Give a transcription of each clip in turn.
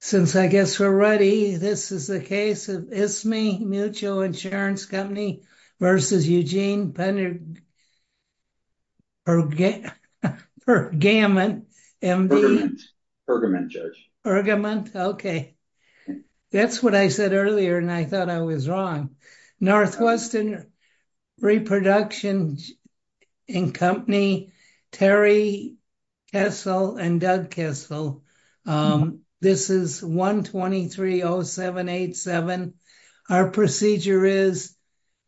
Since I guess we're ready, this is the case of Ismie Mutual Insurance Company v. Eugene Pergament. Okay, that's what I said earlier and I thought I was wrong. Northwestern Reproduction and Company Terry Kessel and Doug Kessel. This is 123-0787. Our procedure is,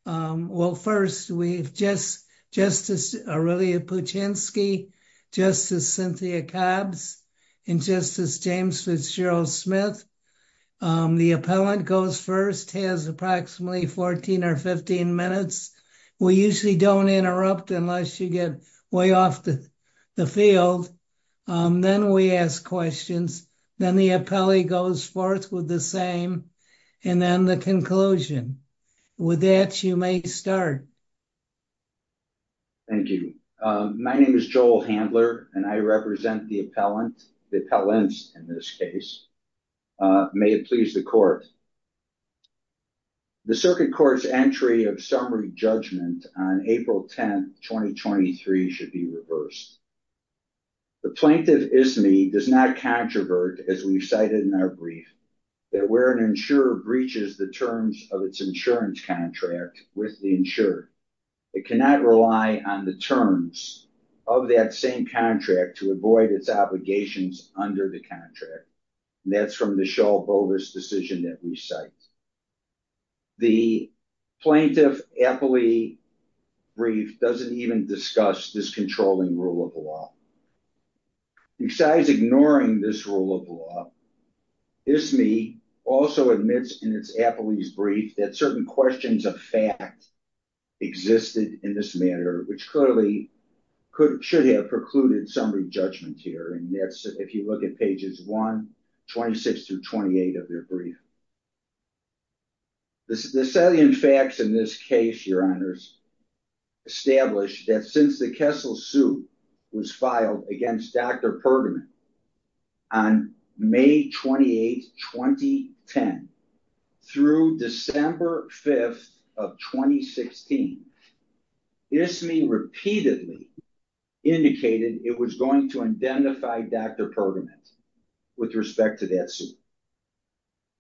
well first we've Justice Aurelia Puchinski, Justice Cynthia Cobbs, and Justice James Fitzgerald Smith. The appellant goes first, has approximately 14 or 15 minutes. We usually don't interrupt unless you get way off the field. Then we ask questions. Then the appellee goes forth with the same and then the conclusion. With that, you may start. Thank you. My name is Joel Handler and I represent the appellants in this case. May it please the court. The circuit court's entry of summary judgment on April 10, 2023 should be reversed. The plaintiff, Ismie, does not controvert, as we've cited in our brief, that where an insurer breaches the terms of its insurance contract with the insurer, it cannot rely on the terms of that same contract to avoid its obligations under the contract. That's from the Shull-Bovis decision that we cite. The plaintiff appellee brief doesn't even discuss this controlling rule of law. Besides ignoring this rule of law, Ismie also admits in its appellee's brief that certain questions of fact existed in this matter, which clearly should have precluded summary judgment here. And that's if you look at pages 1, 26 through 28 of their brief. The salient facts in this case, your honors, establish that since the Kessel suit was filed against Dr. Pergamon on May 28, 2010 through December 5th of 2016, Ismie repeatedly indicated it was going to identify Dr. Pergamon with respect to that suit.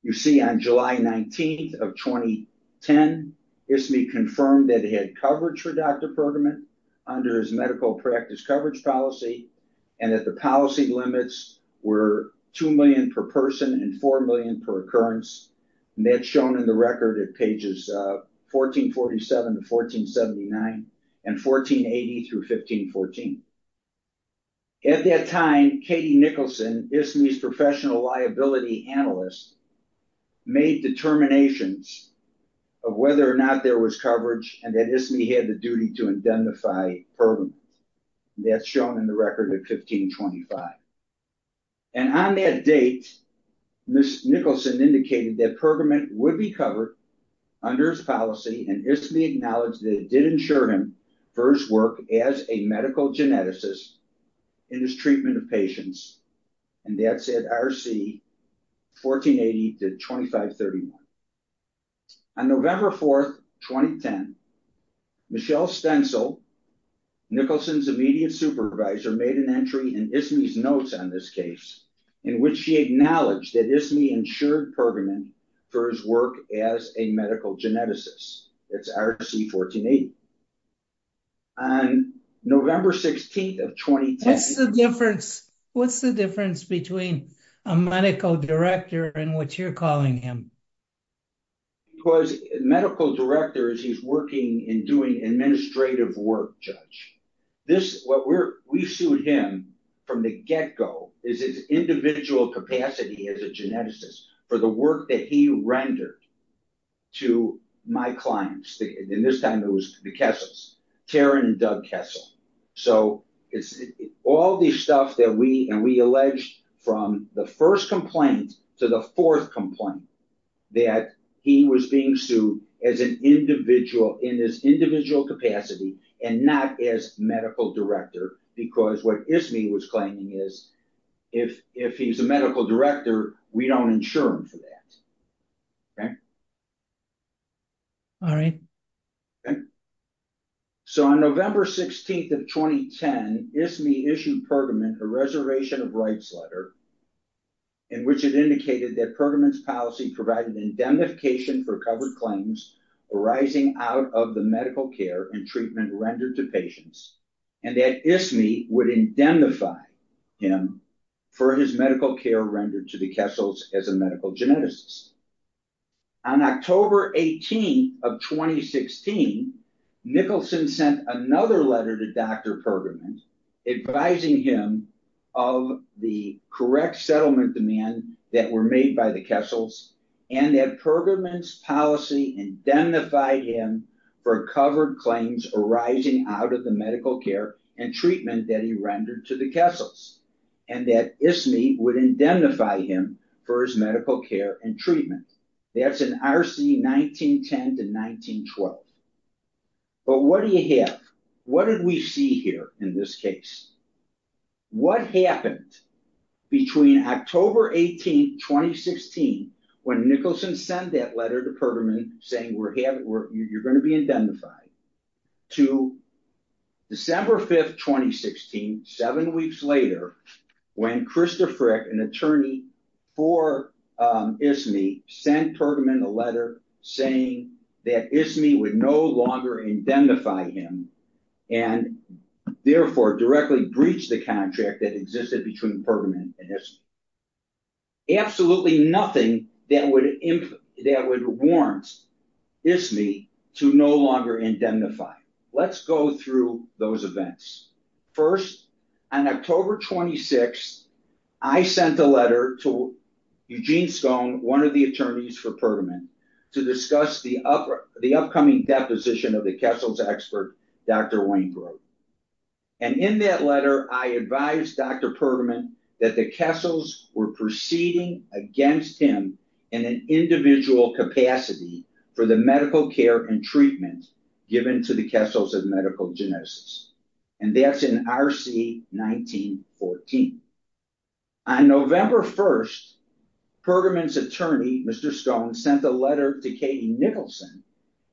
You see on July 19th of 2010, Ismie confirmed that he had coverage for Dr. Pergamon under his medical practice coverage policy and that the policy limits were $2 million per person and $4 million per occurrence. And that's shown in the record at 1447 to 1479 and 1480 through 1514. At that time, Katie Nicholson, Ismie's professional liability analyst, made determinations of whether or not there was coverage and that Ismie had the duty to identify Pergamon. That's shown in the record at 1525. And on that date, Ms. Nicholson indicated that Pergamon would be covered under his policy and Ismie acknowledged that it did insure him for his work as a medical geneticist in his treatment of patients. And that's at RC 1480 to 2531. On November 4th, 2010, Michelle Stensel, Nicholson's immediate supervisor, made an entry in Ismie's notes on this case, in which she acknowledged that Ismie insured Pergamon for his work as a medical geneticist. It's RC 1480. On November 16th of 2010- What's the difference between a medical director and what you're calling him? Because medical director is he's working and doing administrative work, Judge. This, what we're, we sued him from the get-go is his individual capacity as a geneticist for the work that he rendered to my clients, and this time it was the Kessels, Taryn and Doug Kessel. So it's all this stuff that we, and we alleged from the first complaint to the fourth complaint that he was being sued as an individual in this individual capacity and not as medical director because what Ismie was claiming is, if he's a medical director, we don't insure him for that. Okay. All right. Okay. So on November 16th of 2010, Ismie issued Pergamon a reservation of rights letter in which it indicated that Pergamon's policy provided indemnification for covered claims arising out of the medical care and treatment rendered to patients and that Ismie would indemnify him for his medical care rendered to the Kessels as a medical geneticist. On October 18th of 2016, Nicholson sent another letter to Dr. Pergamon advising him of the correct settlement demand that were made by the Kessels and that Pergamon's policy indemnified him for covered claims arising out of the medical care and treatment that he rendered to the Kessels and that Ismie would indemnify him for his medical care and treatment. That's in RC 1910 to 1912. But what do you have? What did we see here in this case? What happened between October 18th, 2016, when Nicholson sent that letter to Pergamon saying you're going to be indemnified, to December 5th, 2016, seven weeks later, when Krista Frick, an attorney for Ismie, sent Pergamon a letter saying that Ismie would no longer indemnify him and therefore directly breach the contract that existed between Pergamon and Ismie. Absolutely nothing that would warrant Ismie to no longer indemnify. Let's go through those events. First, on October 26th, I sent a letter to Eugene Scone, one of the attorneys for Pergamon, to discuss the upcoming deposition of the Kessels expert, Dr. Wainwright. And in that letter, I advised Dr. Pergamon that the Kessels were proceeding against him in an individual capacity for the medical care and treatment given to the Kessels of medical genesis. And that's in R.C. 1914. On November 1st, Pergamon's attorney, Mr. Scone, sent a letter to Katie Nicholson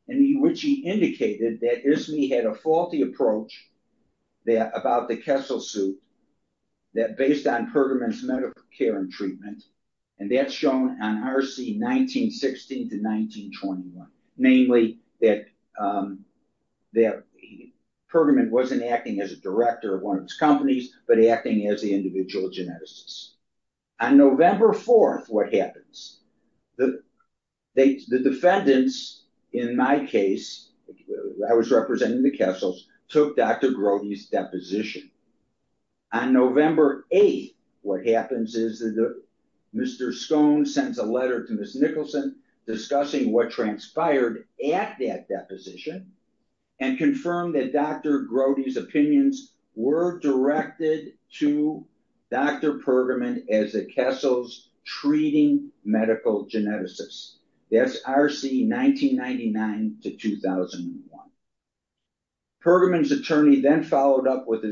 in which he indicated that Ismie had a faulty approach about the Kessels suit, that based on Pergamon's medical care and treatment, and that's shown on R.C. 1916 to 1921, namely that Pergamon wasn't acting as a director of one of its companies, but acting as the individual geneticist. On November 4th, what happens? The defendants, in my case, I was representing the Kessels, took Dr. Grody's deposition. On November 8th, what happens is that Mr. Scone sends a letter to Ms. Nicholson discussing what transpired at that deposition and confirmed that Dr. Grody's opinions were directed to Dr. Pergamon as the Kessels treating medical geneticists. That's R.C. 1999 to 2001. Pergamon's attorney then followed up with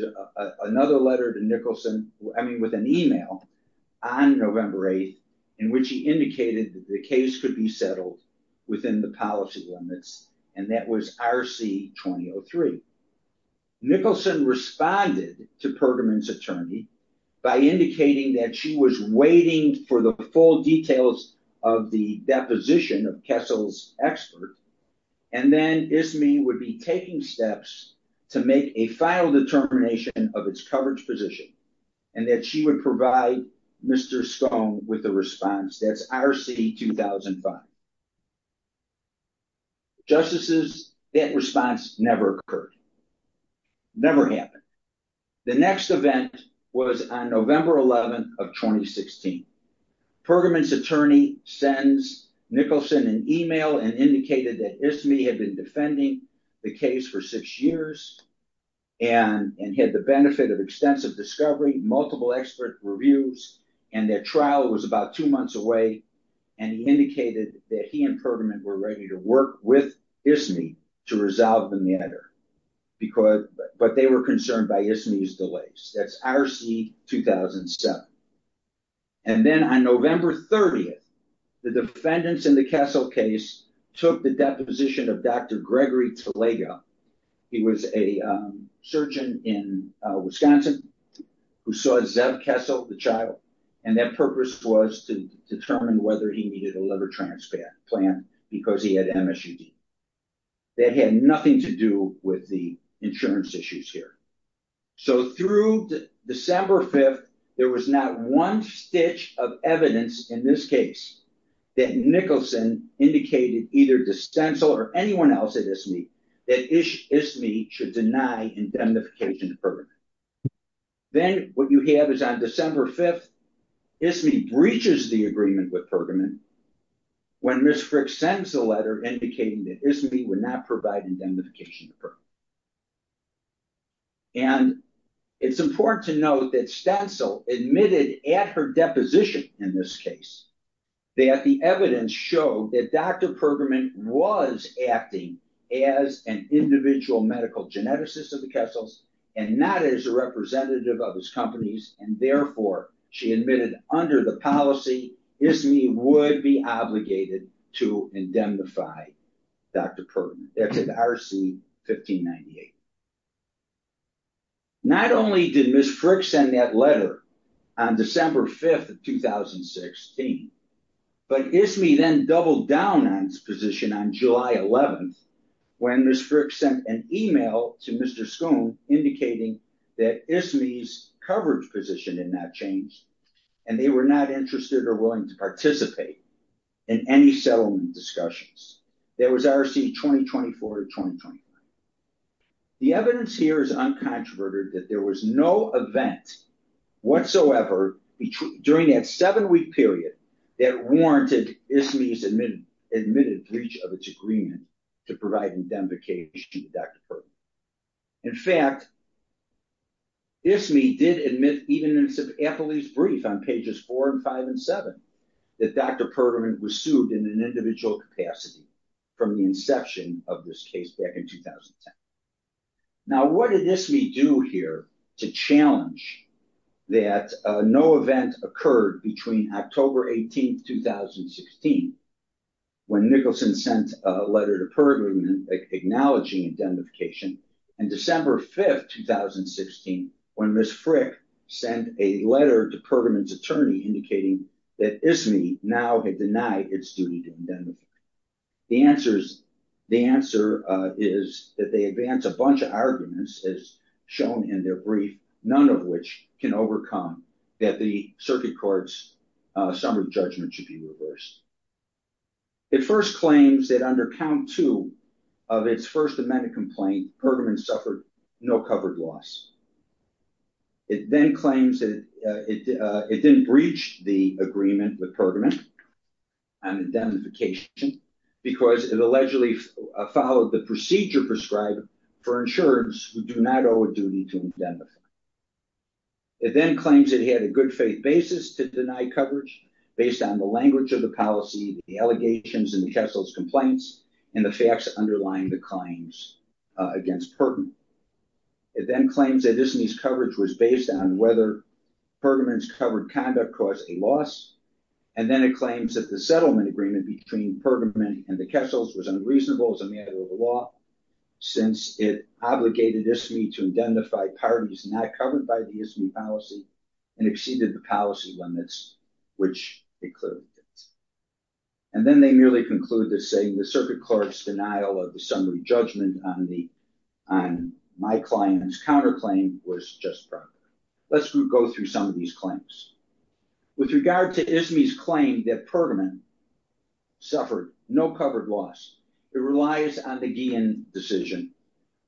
another letter to Nicholson, I mean with an email, on November 8th in which he indicated that the case could be settled within the policy limits and that was R.C. 2003. Nicholson responded to Pergamon's attorney by indicating that she was waiting for the full details of the deposition of Kessels' expert and then ISMI would be taking steps to make a final determination of its coverage position and that she would provide Mr. Scone with the response. That's R.C. 2005. Justices, that response never occurred, never happened. The next event was on November 11th 2016. Pergamon's attorney sends Nicholson an email and indicated that ISMI had been defending the case for six years and had the benefit of extensive discovery, multiple expert reviews, and that trial was about two months away and he indicated that he and Pergamon were ready to work with ISMI to resolve the matter because, but they were concerned by ISMI's delays. That's R.C. 2007. And then on November 30th, the defendants in the Kessel case took the deposition of Dr. Gregory Talaga. He was a surgeon in Wisconsin who saw Zeb Kessel, the child, and their purpose was to determine whether he needed a liver transplant plan because he had MSUD. That had nothing to do with the insurance issues here. So through December 5th, there was not one stitch of evidence in this case that Nicholson indicated either to Kessel or anyone else at ISMI, that ISMI should deny indemnification to Pergamon. Then what you have is on December 5th, ISMI breaches the agreement with Pergamon when Ms. Frick sends a letter indicating that ISMI would not provide indemnification to Pergamon. And it's important to note that Stencil admitted at her deposition in this case that the evidence showed that Dr. Pergamon was acting as an individual medical geneticist of the Kessels and not as a representative of his companies and therefore she admitted under the policy ISMI would be obligated to indemnify Dr. Pergamon. That's at RC-1598. Not only did Ms. Frick send that letter on December 5th of 2016, but ISMI then doubled down on its position on July 11th when Ms. Frick sent an email to Mr. Schoon indicating that ISMI's position had not changed and they were not interested or willing to participate in any settlement discussions. That was RC-2024-2025. The evidence here is uncontroverted that there was no event whatsoever during that seven-week period that warranted ISMI's admitted breach of its agreement to provide indemnification to Dr. Pergamon. In fact, ISMI did admit even in a police brief on pages four and five and seven that Dr. Pergamon was sued in an individual capacity from the inception of this case back in 2010. Now what did ISMI do here to challenge that no event occurred between October 18th, 2016 when Nicholson sent a letter acknowledging indemnification and December 5th, 2016 when Ms. Frick sent a letter to Pergamon's attorney indicating that ISMI now had denied its duty to indemnify. The answer is that they advance a bunch of arguments as shown in their brief, none of which can overcome that the circuit court's summary judgment should be reversed. It first claims that under count two of its first amended complaint, Pergamon suffered no covered loss. It then claims that it didn't breach the agreement with Pergamon on indemnification because it allegedly followed the procedure prescribed for insurance who do not owe a duty to indemnify. It then claims it had a good faith basis to deny coverage based on the language of the policy, the allegations, and the Kessler's complaints and the facts underlying the claims against Pergamon. It then claims that ISMI's coverage was based on whether Pergamon's covered conduct caused a loss and then it claims that the settlement agreement between Pergamon and the Kessler's was unreasonable as a matter of the law since it obligated ISMI to identify parties not covered by the ISMI policy and exceeded the policy limits which it clearly did. And then they merely conclude that saying the circuit court's denial of the summary judgment on my client's counterclaim was justified. Let's go through some of these claims. With regard to ISMI's claim that Pergamon suffered no covered loss. It relies on the Guillen decision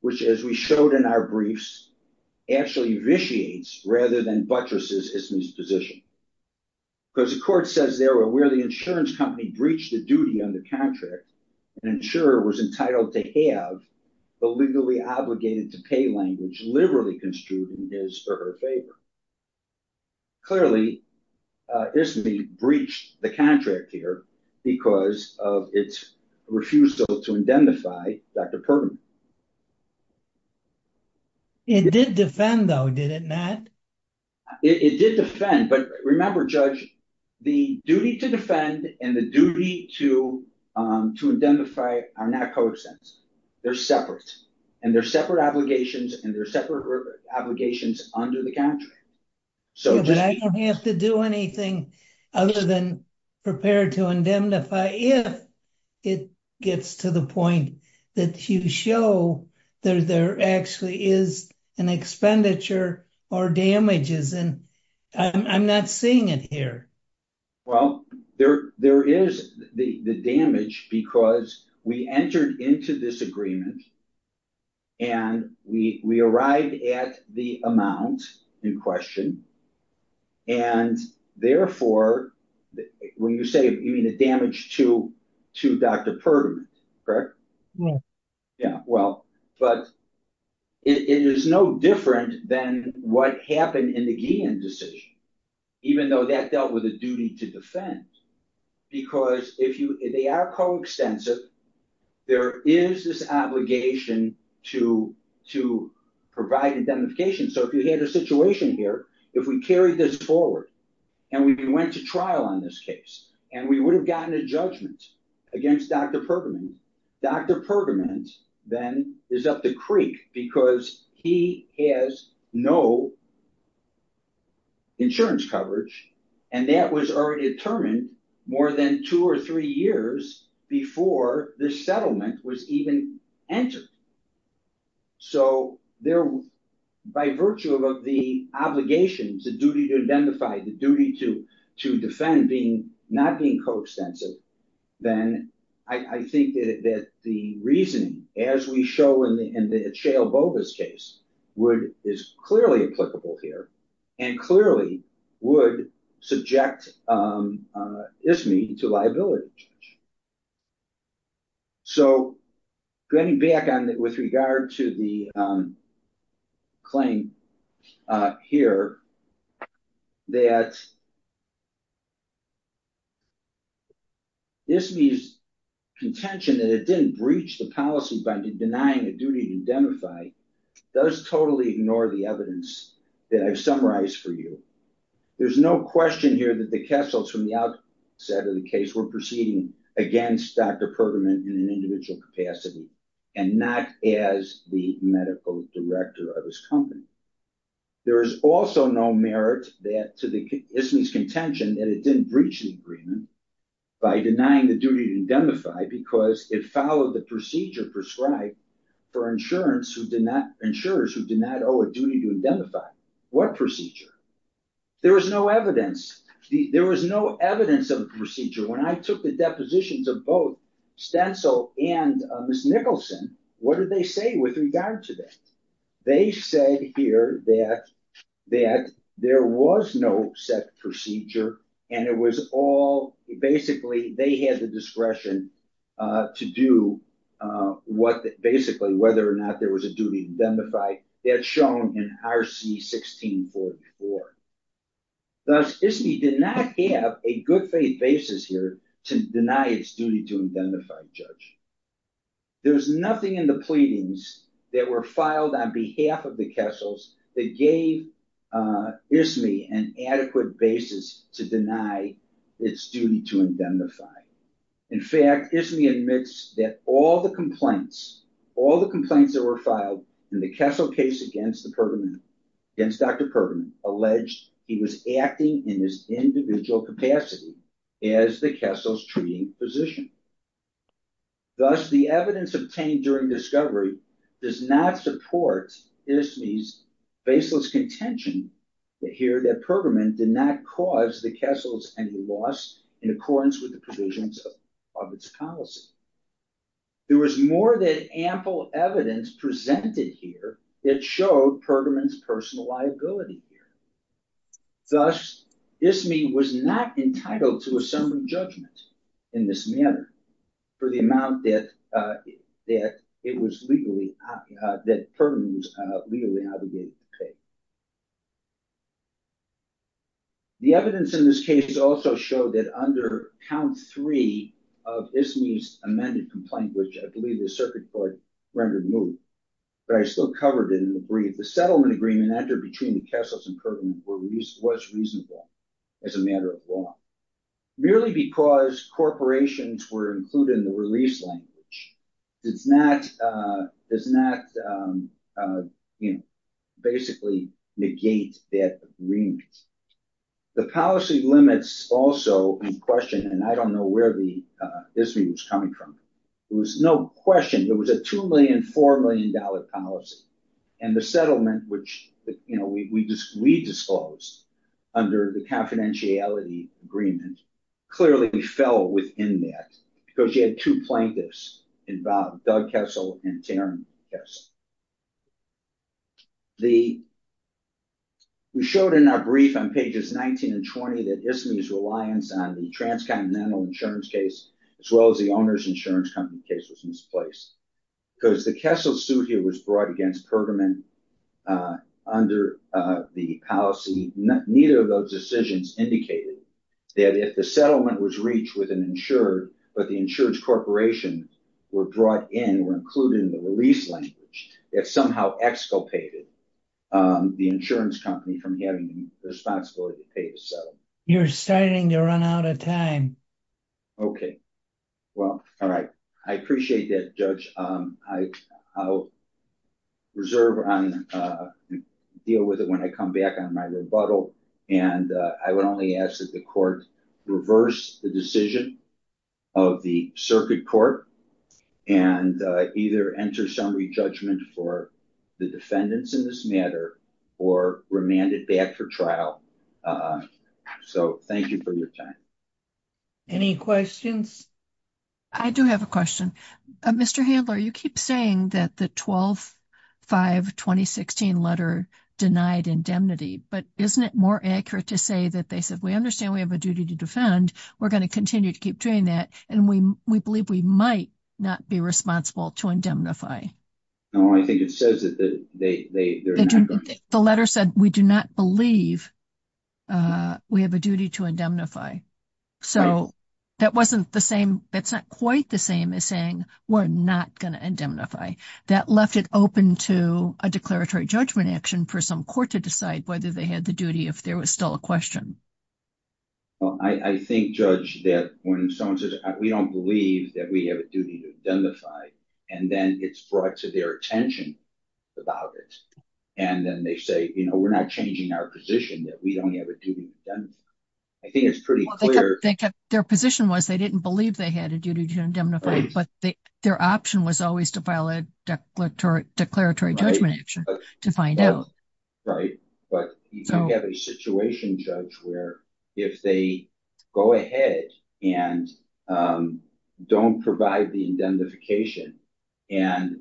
which as we showed in our briefs actually vitiates rather than buttresses ISMI's position. Because the court says there where the insurance company breached the duty on the contract an insurer was entitled to have the legally obligated to pay language liberally construed in his or her favor. Clearly ISMI breached the contract here because of its refusal to identify Dr. Pergamon. It did defend though did it not? It did defend but remember judge the duty to defend and the duty to to identify are not co-extents. They're separate and they're separate obligations and they're separate. But I don't have to do anything other than prepare to indemnify if it gets to the point that you show that there actually is an expenditure or damages and I'm not seeing it here. Well there there is the the damage because we entered into this agreement and we we arrived at the amount in question and therefore when you say you mean the damage to to Dr. Pergamon correct? Yeah. Yeah well but it is no different than what happened in the Guillen decision even though that dealt with a duty to defend. Because if you they are co-extensive there is this obligation to to provide indemnification. So if you had a situation here if we carried this forward and we went to trial on this case and we would have gotten a judgment against Dr. Pergamon. Dr. Pergamon then is up the creek because he has no insurance coverage and that was already determined more than two or three years before this settlement was even entered. So they're by virtue of the obligations the duty to identify the duty to to defend being not being co-extensive. Then I think that the reasoning as we show in the in the Atchale-Bogas case would is clearly applicable here and clearly would subject ISME to liability. So getting back on with regard to the claim here that ISME's contention that it didn't breach the policy by denying a duty to indemnify does totally ignore the evidence that I've summarized for you. There's no question here that the Kessels from the outset of the case were proceeding against Dr. Pergamon in an individual capacity and not as the medical director of his company. There is also no merit that to the ISME's contention that it didn't breach the agreement by denying the duty to indemnify because it followed the procedure prescribed for insurance who did not insurers who did not owe a duty to indemnify. What procedure? There was no evidence the there was no evidence of the procedure when I took the depositions of both Stencil and Miss Nicholson. What did they say with regard to that? They said here that that there was no set procedure and it was all basically they had the discretion to do what basically whether or not there was a duty to indemnify that's shown in RC 1644. Thus ISME did not have a basis here to deny its duty to indemnify a judge. There was nothing in the pleadings that were filed on behalf of the Kessels that gave ISME an adequate basis to deny its duty to indemnify. In fact ISME admits that all the complaints all the complaints that were filed in the Kessel case against the Pergamon against Dr. Pergamon alleged he was acting in individual capacity as the Kessels treating physician. Thus the evidence obtained during discovery does not support ISME's baseless contention here that Pergamon did not cause the Kessels any loss in accordance with the provisions of its policy. There was more than evidence presented here that showed Pergamon's personal liability here. Thus ISME was not entitled to a summary judgment in this manner for the amount that it was legally that Pergamon was legally obligated to pay. The evidence in this case also showed that under count three of ISME's amended complaint which I circuit court rendered moot but I still covered it in the brief. The settlement agreement entered between the Kessels and Pergamon was reasonable as a matter of law. Merely because corporations were included in the release language does not you know basically negate that agreement. The policy limits also in question and I don't know where the ISME was coming from. There was no question there was a two million, four million dollar policy and the settlement which you know we just we disclosed under the confidentiality agreement clearly fell within that because you had two plaintiffs involved Doug Kessel and Taryn Kessel. We showed in our brief on pages 19 and 20 that ISME's reliance on the transcontinental insurance case as well as the owner's insurance company case was misplaced because the Kessel suit here was brought against Pergamon under the policy. Neither of those decisions indicated that if the settlement was reached with an insured but the insured corporations were brought in were included in the release language that somehow exculpated the insurance company from having the responsibility to pay the settlement. You're starting to run out of time. Okay well all right I appreciate that judge. I'll reserve on deal with it when I come back on my rebuttal and I would only ask that the court reverse the decision of the circuit court and either enter summary judgment for the defendants in this matter or remand it back for trial. So thank you for your time. Any questions? I do have a question. Mr. Handler you keep saying that the 12-5-2016 letter denied indemnity but isn't it more accurate to say that they said we understand we have a duty to defend we're going to continue to keep doing that and we we believe we might not be responsible to indemnify. No I think it says that they're not. The letter said we do not believe we have a duty to indemnify. So that wasn't the same that's not quite the same as saying we're not going to indemnify. That left it open to a declaratory judgment action for some court to decide whether they had the duty if there was still a question. Well I think judge that when someone says we don't believe that we have a duty to indemnify and then it's brought to their attention about it and then they say you know we're not changing our position that we don't have a duty. I think it's pretty clear. Their position was they didn't believe they had a duty to indemnify but their option was always to file a declaratory judgment action to find out. Right but you don't have a situation judge where if they go ahead and don't provide the indemnification and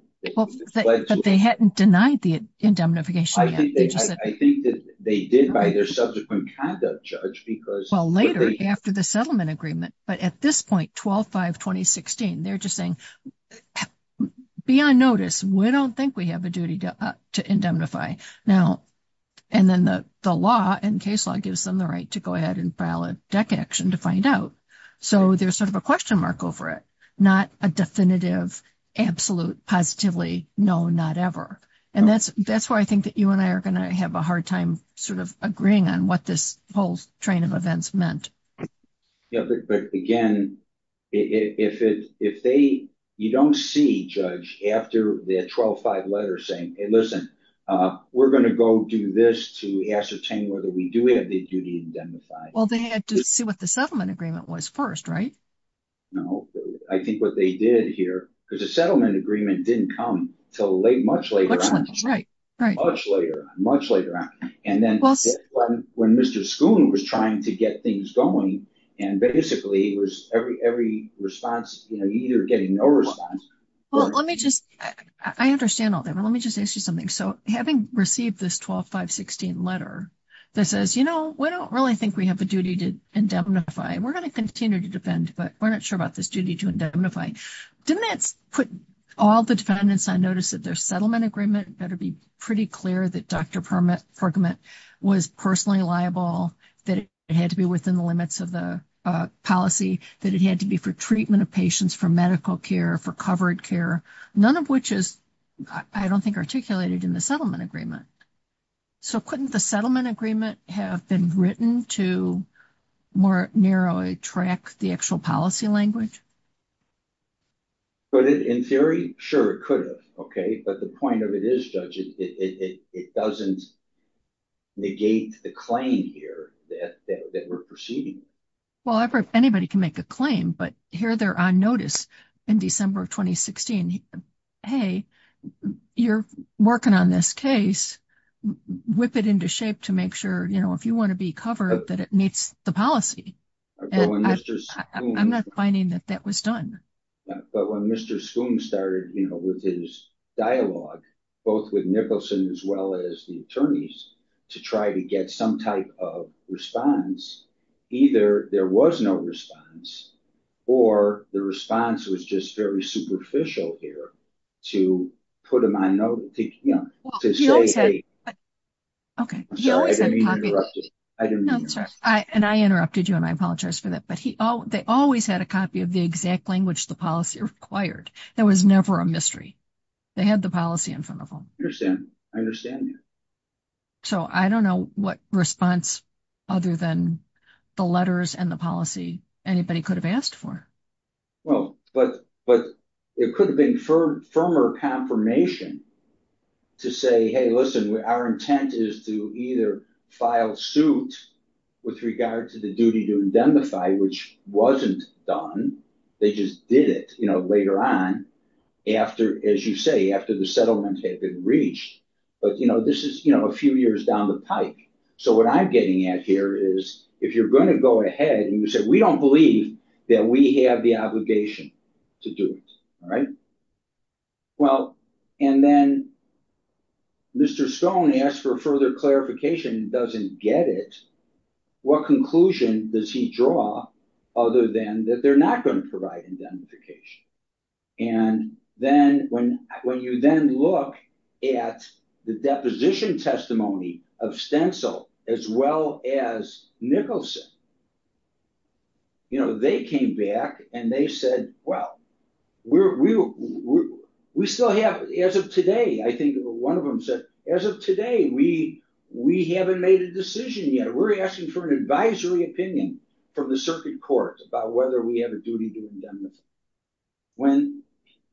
they hadn't denied the indemnification. I think that they did by their subsequent conduct judge because well later after the settlement agreement but at this point 12-5-2016 they're just saying be on notice we don't think we have a duty to indemnify now and then the the law and case law gives them the right to go ahead and file a deck action to find out. So there's sort of a question mark over it not a definitive absolute positively no not ever and that's that's why I think that you and I are going to have a hard time sort of agreeing on what this whole train of events meant. Yeah but again if it if they you don't see judge after the 12-5 letter saying hey listen uh we're going to go do this to ascertain whether we do have the duty to indemnify. Well they had to see what the settlement agreement was first right? No I think what they did here because the settlement agreement didn't come until late much later right much later much later and then when Mr. Schoon was trying to get things going and basically it was every every response you know you're getting no response. Well let me just I understand all that but let me just ask you something so having received this 12-5-16 letter that says you know we don't really think we have a duty to indemnify we're going to continue to defend but we're not sure about this duty to indemnify didn't that put all the defendants on notice that their settlement agreement better be pretty clear that Dr. Pergament was personally liable that it had to be within the limits of the policy that it had to be for treatment of patients for medical care for covered care none of which is I don't think articulated in the settlement agreement. So couldn't the settlement agreement have been written to more narrowly track the actual policy language? But in theory sure it could have okay but the point of it is judge it doesn't negate the claim here that that we're proceeding. Well I've heard anybody can make a claim but here they're on notice in December of 2016 hey you're working on this case whip it into shape to make you know if you want to be covered that it meets the policy. I'm not finding that that was done. But when Mr. Schoom started you know with his dialogue both with Nicholson as well as the attorneys to try to get some type of response either there was no response or the response was just very superficial here to put him on note to you know to say hey okay. And I interrupted you and I apologize for that but he oh they always had a copy of the exact language the policy required there was never a mystery they had the policy in front of them. So I don't know what response other than the letters and the policy anybody could have asked for. Well but but it could have been firm firmer confirmation to say hey listen our intent is to either file suit with regard to the duty to indemnify which wasn't done they just did it you know later on after as you say after the settlement had been reached but you know this is you know a few years down the pike. So what I'm getting at here is if you're going to go ahead and you say we don't believe that we have the obligation to do it all right well and then Mr. Schoom asked for further clarification and doesn't get it what conclusion does he draw other than that they're not going to provide indemnification and then when when you then look at the deposition testimony of Stencil as well as Nicholson you know they came back and they said well we're we we still have as of today I think one of them said as of today we we haven't made a decision yet we're asking for an advisory opinion from the circuit court about whether we have a duty to indemnify when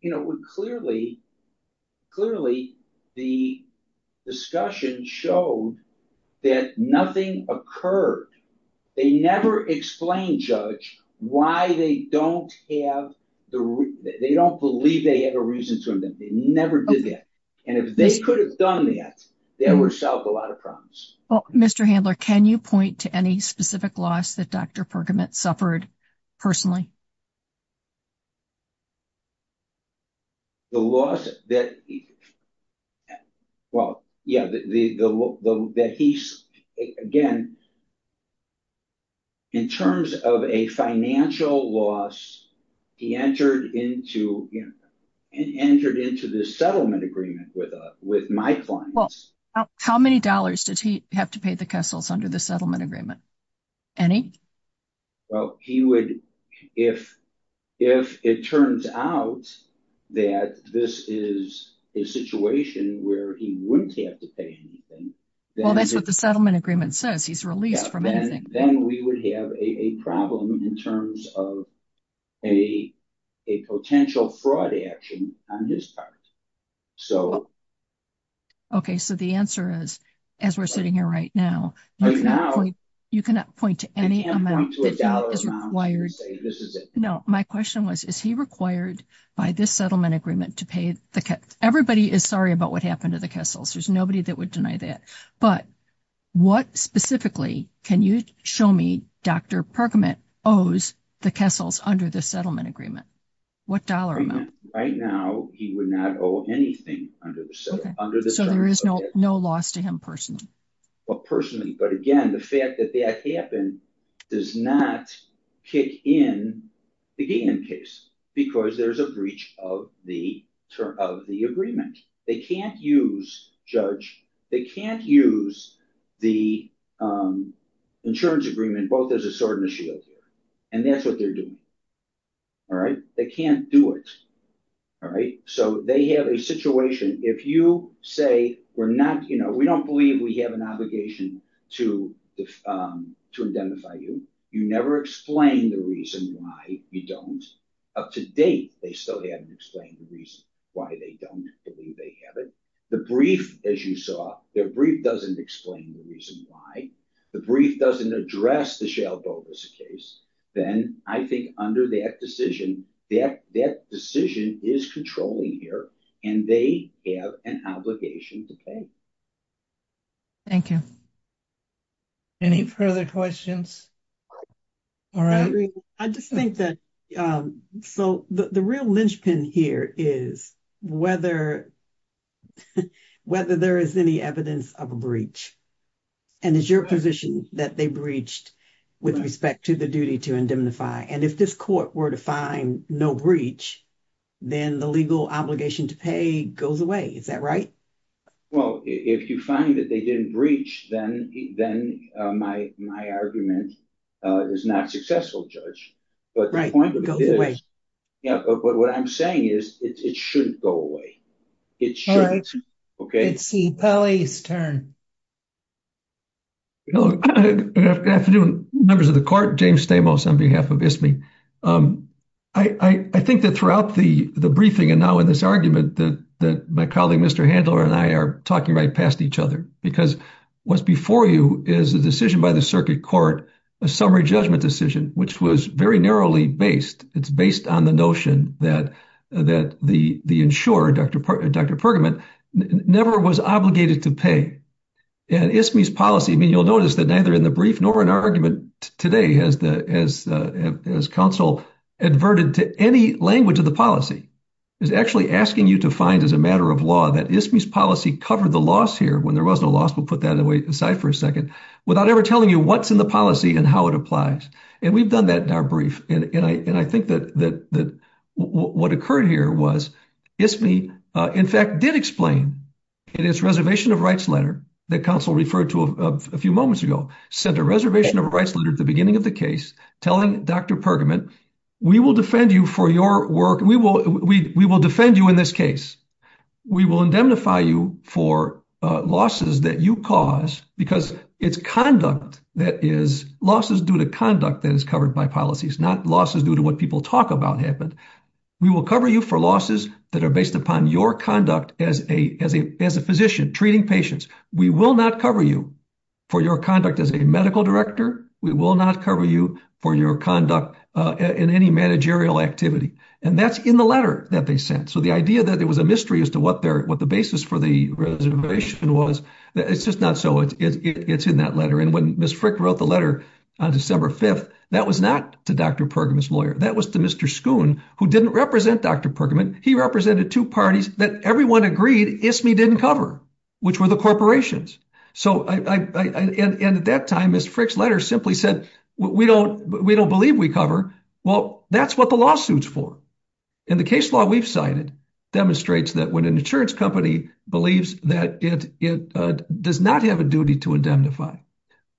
you know we're clearly clearly the discussion showed that nothing occurred they never explained judge why they don't have the they don't believe they have a reason to indemnify they never did that and if they could have done that they would have solved a lot of problems. Well Mr. Handler can you point to any specific loss that Dr. Pergamon suffered personally? The loss that well yeah the the that he's again in terms of a financial loss he entered into you know and entered into this settlement agreement with uh with my clients. Well how many dollars did he have to pay the Kessels under the settlement agreement? Any? Well he would if if it turns out that this is a situation where he wouldn't have to pay anything. Well that's what the settlement agreement says he's released from anything. Then we would have a problem in terms of a a potential fraud action on his part so. Okay so the answer is as we're sitting here right now you cannot point you cannot point to any amount that is required. No my question was is he required by this settlement agreement to pay the everybody is sorry about what happened to the Kessels there's nobody that would deny that but what specifically can you show me Dr. Pergamon owes the Kessels under this settlement agreement? What dollar amount? Right now he would not owe anything under the settlement. So there is no no loss to him personally? Well personally but again the fact that that happened does not kick in the Gagan case because there's a breach of the term of the agreement. They can't use judge they can't use the insurance agreement both as a sword and a shield here and that's what they're doing. All right they can't do it. All right so they have a situation if you say we're not you know we don't believe we have an obligation to to indemnify you. You never explain the reason why you don't. Up to date they still haven't explained the reason why they don't believe they have it. The brief as you saw their brief doesn't explain the reason why. The brief doesn't address the shale boat as a case then I think under that decision that that decision is controlling here and they have an obligation to pay. Thank you. Any further questions? All right I just think that so the real linchpin here is whether whether there is any evidence of a breach and it's your position that they breached with respect to the duty to indemnify and if this court were to find no breach then the legal obligation to pay goes away. Is that right? Well if you find that they didn't breach then then my argument is not successful judge. But the point goes away. Yeah but what I'm saying is it shouldn't go away. It shouldn't. Okay let's see. Pelley's turn. Hello good afternoon members of the court. James Stamos on behalf of ISMI. I think that throughout the the briefing and now in this argument that my colleague Mr. Handler and I are talking right past each other because what's before you is a decision by the circuit court a summary judgment decision which was very narrowly based. It's based on the notion that that the the insurer Dr. Pergamon never was obligated to pay. And ISMI's policy I mean you'll notice that neither in the brief nor an argument today has the as as counsel adverted to any language of the policy is actually asking you to find as a matter of law that ISMI's policy covered the loss here when there was no loss we'll put that away aside for a second without ever telling you what's in the policy and how it applies. And we've done that in our brief and and I think that that that what occurred here was ISMI in fact did explain in its reservation of rights letter that counsel referred to a few moments ago sent a reservation of rights letter at the beginning of the case telling Dr. Pergamon we will defend you for your work we will we we will defend you in this case. We will indemnify you for losses that you cause because it's conduct that is losses due to conduct that is covered by policies not losses due to what people talk about happened. We will cover you for losses that are based upon your conduct as a as a as a physician treating patients. We will not cover you for your conduct as a medical director. We will not cover you for your conduct in any managerial activity. And that's in the letter that they sent. So the idea that there was a mystery as to what their what the basis for the was it's just not so it's in that letter. And when Ms. Frick wrote the letter on December 5th that was not to Dr. Pergamon's lawyer that was to Mr. Schoon who didn't represent Dr. Pergamon. He represented two parties that everyone agreed ISMI didn't cover which were the corporations. So I and at that time Ms. Frick's letter simply said we don't we don't believe we cover well that's what the lawsuit's for. And the case law we've cited demonstrates that when an insurance company believes that it does not have a duty to indemnify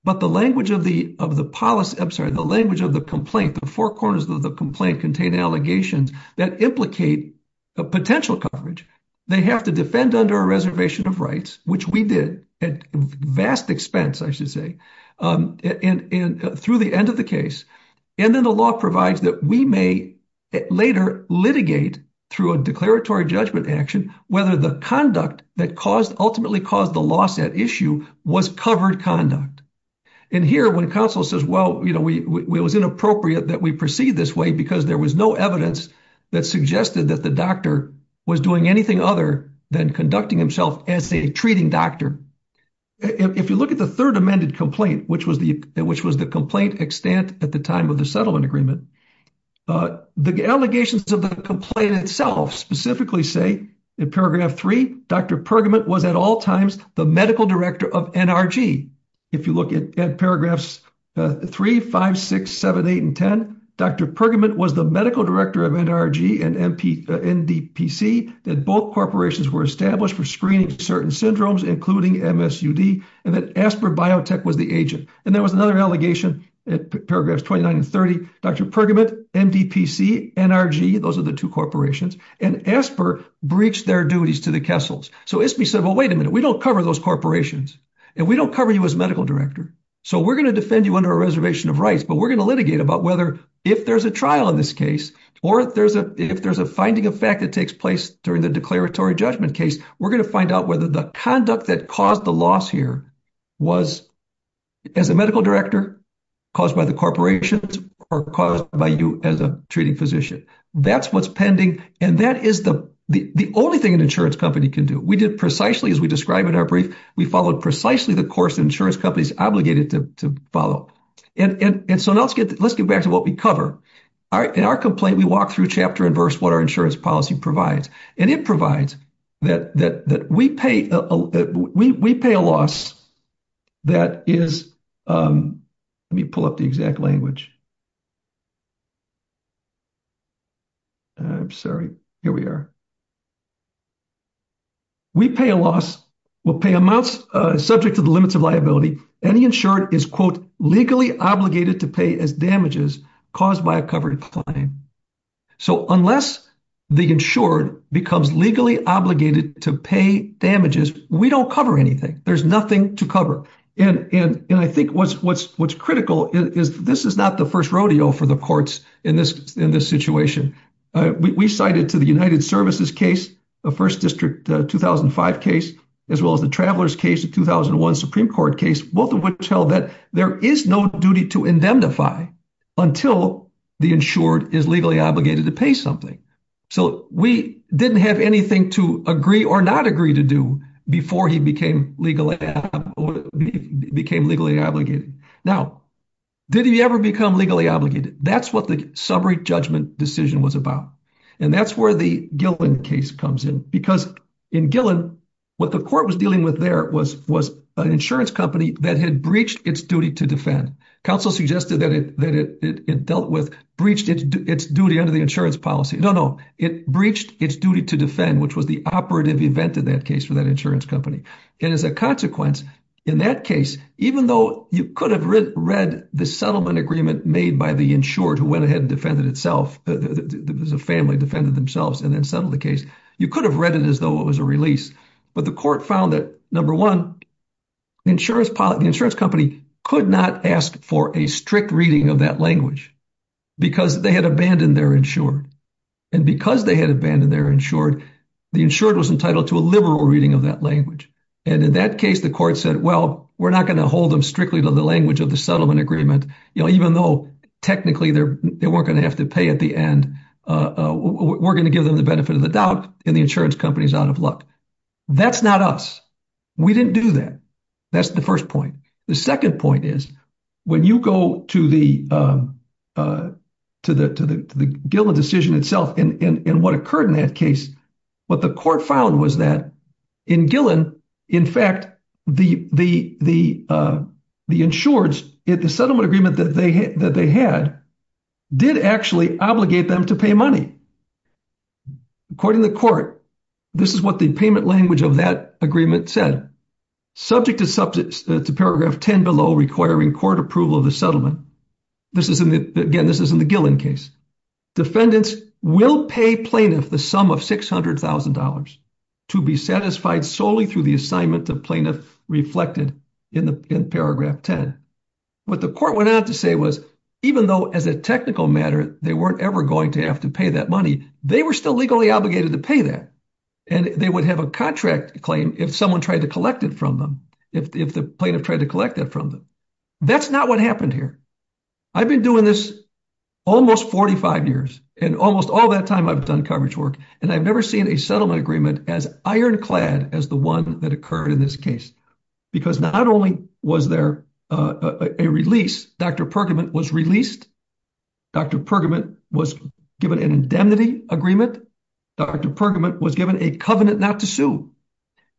but the language of the of the policy I'm sorry the language of the complaint the four corners of the complaint contain allegations that implicate a potential coverage. They have to defend under a reservation of rights which we did at vast expense I should say and through the end of the case. And then the law provides that we may later litigate through a declaratory judgment action whether the conduct that caused ultimately caused the loss at issue was covered conduct. And here when counsel says well you know we it was inappropriate that we proceed this way because there was no evidence that suggested that the doctor was doing anything other than conducting himself as a treating doctor. If you look at the third amended complaint which was the which was the complaint extent at the time of the settlement agreement. The allegations of the complaint itself specifically say in paragraph 3 Dr. Pergament was at all times the medical director of NRG. If you look at paragraphs 3, 5, 6, 7, 8, and 10 Dr. Pergament was the medical director of NRG and NDPC that both corporations were established for screening certain syndromes including MSUD and that Asper Biotech was the agent. And there was another allegation at paragraphs 29 and 30 Dr. Pergament, NDPC, NRG those are the two corporations and Asper breached their duties to the Kessels. So ISBI said well wait a minute we don't cover those corporations and we don't cover you as medical director so we're going to defend you under a reservation of rights but we're going to litigate about whether if there's a trial in this case or if there's a if there's a finding of fact that takes place during the declaratory judgment case we're going to find out whether the conduct that caused the loss here was as a medical director caused by the corporations or caused by you as a treating physician. That's what's pending and that is the only thing an insurance company can do. We did precisely as we describe in our brief we followed precisely the course insurance companies obligated to follow. And so now let's get back to what we cover. In our complaint we walk through chapter and verse what our insurance provides. And it provides that we pay a loss that is let me pull up the exact language. I'm sorry here we are. We pay a loss we'll pay amounts subject to the limits of liability any insured is quote legally obligated to pay as damages caused by a covered claim. So unless the insured becomes legally obligated to pay damages we don't cover anything. There's nothing to cover. And I think what's critical is this is not the first rodeo for the courts in this in this situation. We cite it to the United Services case, the first district 2005 case, as well as the travelers case, the 2001 Supreme Court case, both of which held that there is no duty to indemnify until the insured is legally obligated to pay something. So we didn't have anything to agree or not agree to do before he became legally became legally obligated. Now did he ever become legally obligated? That's what the summary judgment decision was about. And that's where the Gillen case comes in because in Gillen what the court was dealing with there was an insurance company that had breached its duty to defend. Counsel suggested that it dealt with breached its duty under the insurance policy. No, no, it breached its duty to defend, which was the operative event in that case for that insurance company. And as a consequence, in that case, even though you could have read the settlement agreement made by the insured who went ahead and defended itself as a family defended themselves and then settled the case, you could have read it as though it was a release. But the court found that number one, the insurance policy, the insurance company could not ask for a strict reading of that language because they had abandoned their insured. And because they had abandoned their insured, the insured was entitled to a liberal reading of that language. And in that case, the court said, well, we're not going to hold them strictly to the language of the settlement agreement. You know, even though technically they weren't going to have to pay at the end, we're going to give them the benefit of the doubt and the insurance company is out of luck. That's not us. We didn't do that. That's the first point. The second point is when you go to the Gillen decision itself and what occurred in that case, what the court found was that in Gillen, in fact, the insureds, the settlement agreement that they had did actually obligate them to pay money. According to the court, this is what the payment language of that agreement said. Subject to paragraph 10 below requiring court approval of the settlement. Again, this is in the Gillen case. Defendants will pay plaintiff the sum of $600,000 to be satisfied solely through the assignment of plaintiff reflected in paragraph 10. What the court went on to say was, even though as a technical matter, they weren't ever going to have to pay that money, they were still legally obligated to pay that. And they would have a contract claim if someone tried to collect it from them, if the plaintiff tried to collect that from them. That's not what happened here. I've been doing this almost 45 years and almost all that time I've done coverage work and I've never seen a settlement agreement as ironclad as the one that occurred in this case. Because not only was there a release, Dr. Pergament was released. Dr. Pergament was given an indemnity agreement. Dr. Pergament was given a covenant not to sue.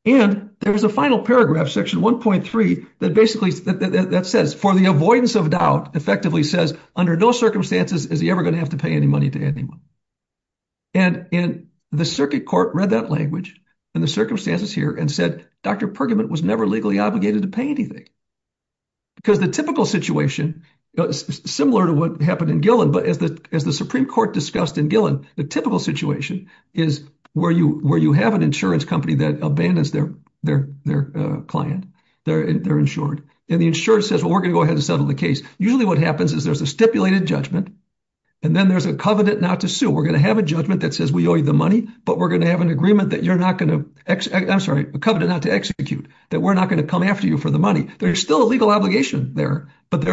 And there was a final paragraph, section 1.3, that basically that says, for the avoidance of doubt, effectively says, under no circumstances is he ever going to have to pay any money to anyone. And the circuit court read that language and the circumstances here and said, Dr. Pergament was never legally obligated to pay anything. Because the typical situation, similar to what happened in Gillen, but as the Supreme Court discussed in Gillen, the typical situation is where you have an insurance company that abandons their client, they're insured. And the insurer says, well, we're going to go ahead and settle the case. Usually what happens is there's a stipulated judgment. And then there's a covenant not to sue. We're going to have a judgment that says we owe you the money, but we're going to have an agreement that you're not going to, I'm sorry, a covenant not to execute, that we're not going to come after you for the money. There's still a legal obligation there, but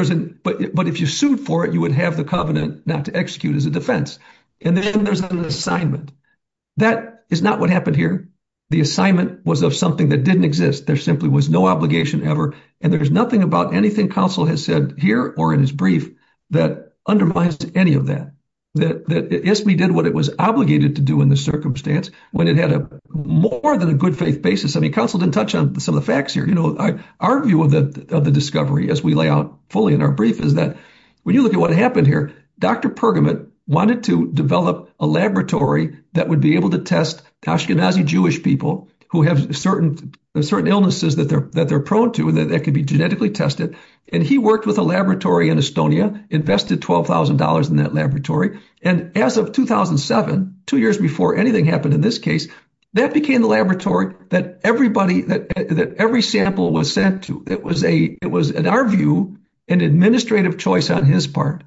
if you sued for it, you would have the covenant not to execute as a defense. And then there's an assignment. That is not what happened here. The assignment was of something that didn't exist. There simply was no obligation ever. And there's nothing about anything Council has said here or in his brief that undermines any of that. That ISBI did what it was obligated to do in the circumstance when it had a more than a good faith basis. I mean, Council didn't touch on some of the facts here. Our view of the discovery, as we lay out fully in our brief, is that when you look at what happened here, Dr. Pergamut wanted to develop a laboratory that would be able to test Ashkenazi Jewish people who have certain illnesses that they're prone to that could be genetically tested. And he worked with a laboratory in Estonia, invested $12,000 in that laboratory. And as of 2007, two years before anything happened in this case, that became the laboratory that everybody, that every sample was sent to. It was, in our view, an administrative choice on his part.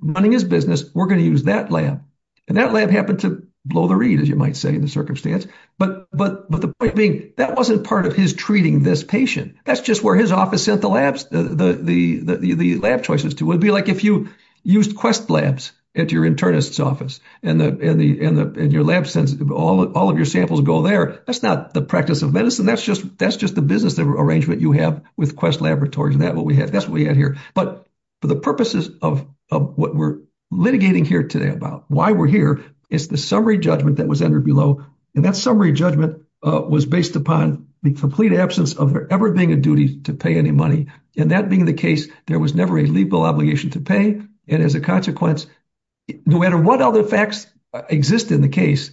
Running his business, we're going to use that lab. And that lab happened to blow the reed, as you might say, in the circumstance. But the point being, that wasn't part of his treating this patient. That's just where his office sent the lab choices to. It would be like if you used Quest Labs at your internist's office, and your lab sends all of your samples go there. That's not the practice of medicine. That's just the business arrangement you have with Quest Laboratories. And that's what we had here. But for the purposes of what we're litigating here today about, why we're here, it's the summary judgment that was entered below. And that summary judgment was based upon the complete absence of ever being a duty to pay any money. And that being the case, there was never a legal obligation to pay. And as a consequence, no matter what other facts exist in the case,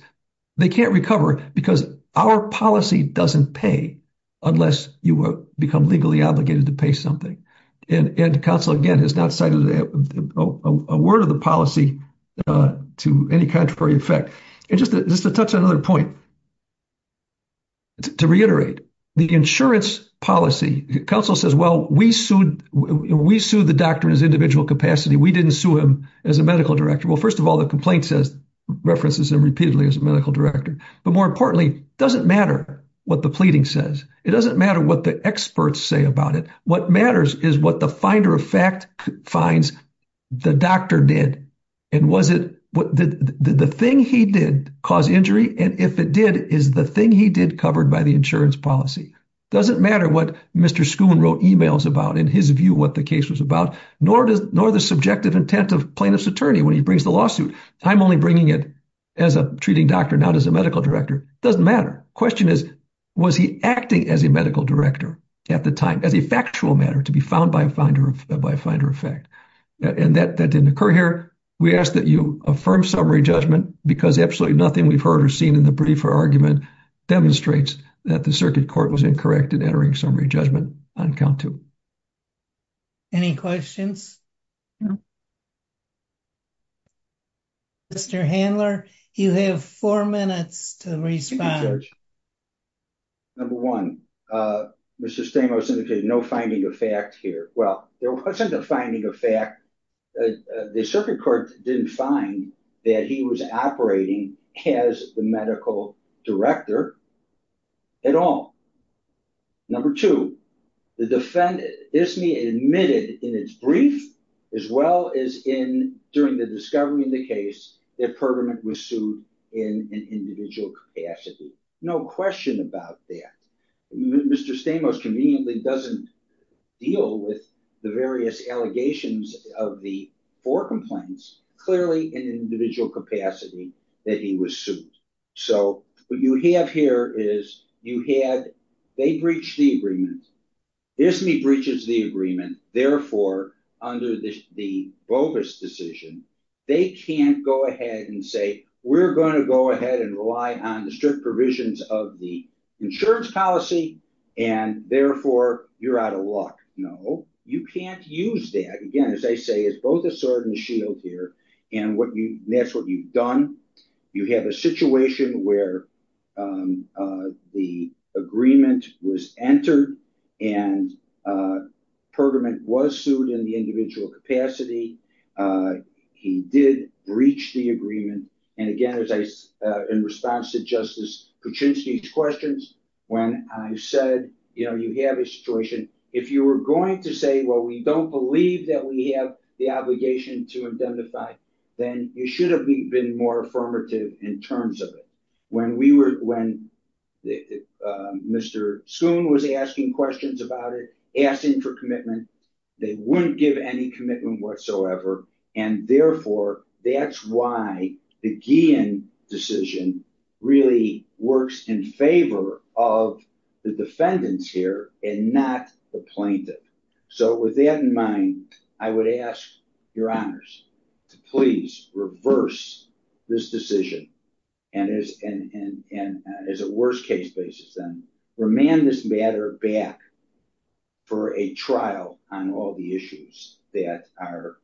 they can't recover because our policy doesn't pay unless you become legally obligated to pay something. And counsel, again, has not cited a word of the policy to any contrary effect. And just to touch on another point, to reiterate, the insurance policy, counsel says, well, we sued the doctor in his individual capacity. We didn't sue him as a medical director. Well, first of all, the complaint references him repeatedly as a medical director. But more importantly, it doesn't matter what the reading says. It doesn't matter what the experts say about it. What matters is what the finder of fact finds the doctor did. And was it, did the thing he did cause injury? And if it did, is the thing he did covered by the insurance policy? Doesn't matter what Mr. Schoon wrote emails about in his view what the case was about, nor does nor the subjective intent of plaintiff's attorney when he brings the lawsuit. I'm only bringing it as a treating doctor, not as a medical director. Doesn't matter. Question is, was he acting as a medical director at the time as a factual matter to be found by a finder of fact? And that didn't occur here. We ask that you affirm summary judgment because absolutely nothing we've heard or seen in the brief or argument demonstrates that the circuit court was incorrect in entering summary judgment on count two. Any questions? No. Mr. Handler, you have four minutes to respond. Number one, Mr. Stamos indicated no finding of fact here. Well, there wasn't a finding of fact. The circuit court didn't find that he was operating as the medical director at all. Number two, the defendant admitted in its brief as well as in during the discovery of the case that Pergamon was sued in an individual capacity. No question about that. Mr. Stamos conveniently doesn't deal with the various allegations of the four complaints clearly in individual capacity that he was sued. So what you have here is you had, they breached the agreement. ISME breaches the agreement. Therefore, under the bogus decision, they can't go ahead and say, we're going to go ahead and rely on the strict provisions of the insurance policy. And therefore, you're out of luck. No, you can't use that. Again, as I say, it's both a sword and a shield here. And what you, that's what you've done. You have a situation where the agreement was entered and Pergamon was sued in the individual capacity. He did breach the agreement. And again, as I, in response to Justice Kuczynski's questions, when I said, you know, you have a situation. If you were going to say, well, we don't believe that we have the obligation to identify, then you should have been more affirmative in terms of it. When we were, when Mr. Soon was asking questions about it, asking for commitment, they wouldn't give any commitment whatsoever. And therefore, that's why the Guillen decision really works in favor of the defendants here and not the plaintiff. So with that in mind, I would ask your honors to please reverse this decision and as a worst case basis, then remand this matter back for a trial on all the issues that are,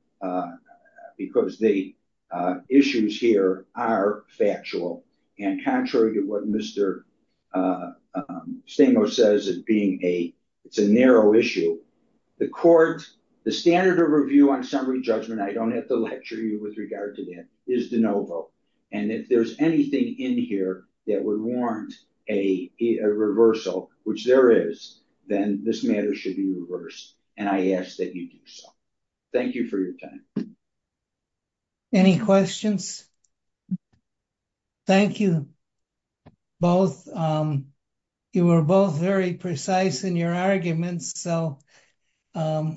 because the issues here are factual and contrary to what Mr. Stamos says, it being a narrow issue, the court, the standard of review on summary judgment, I don't have to lecture you with regard to that, is de novo. And if there's anything in here that would warrant a reversal, which there is, then this matter should be reversed. And I ask that you do so. Thank you for your time. Any questions? Thank you both. You were both very precise in your arguments. So we'll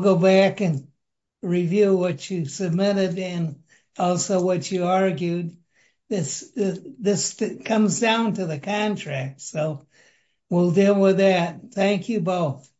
go back and review what you submitted and also what you argued. This comes down to contract. So we'll deal with that. Thank you both.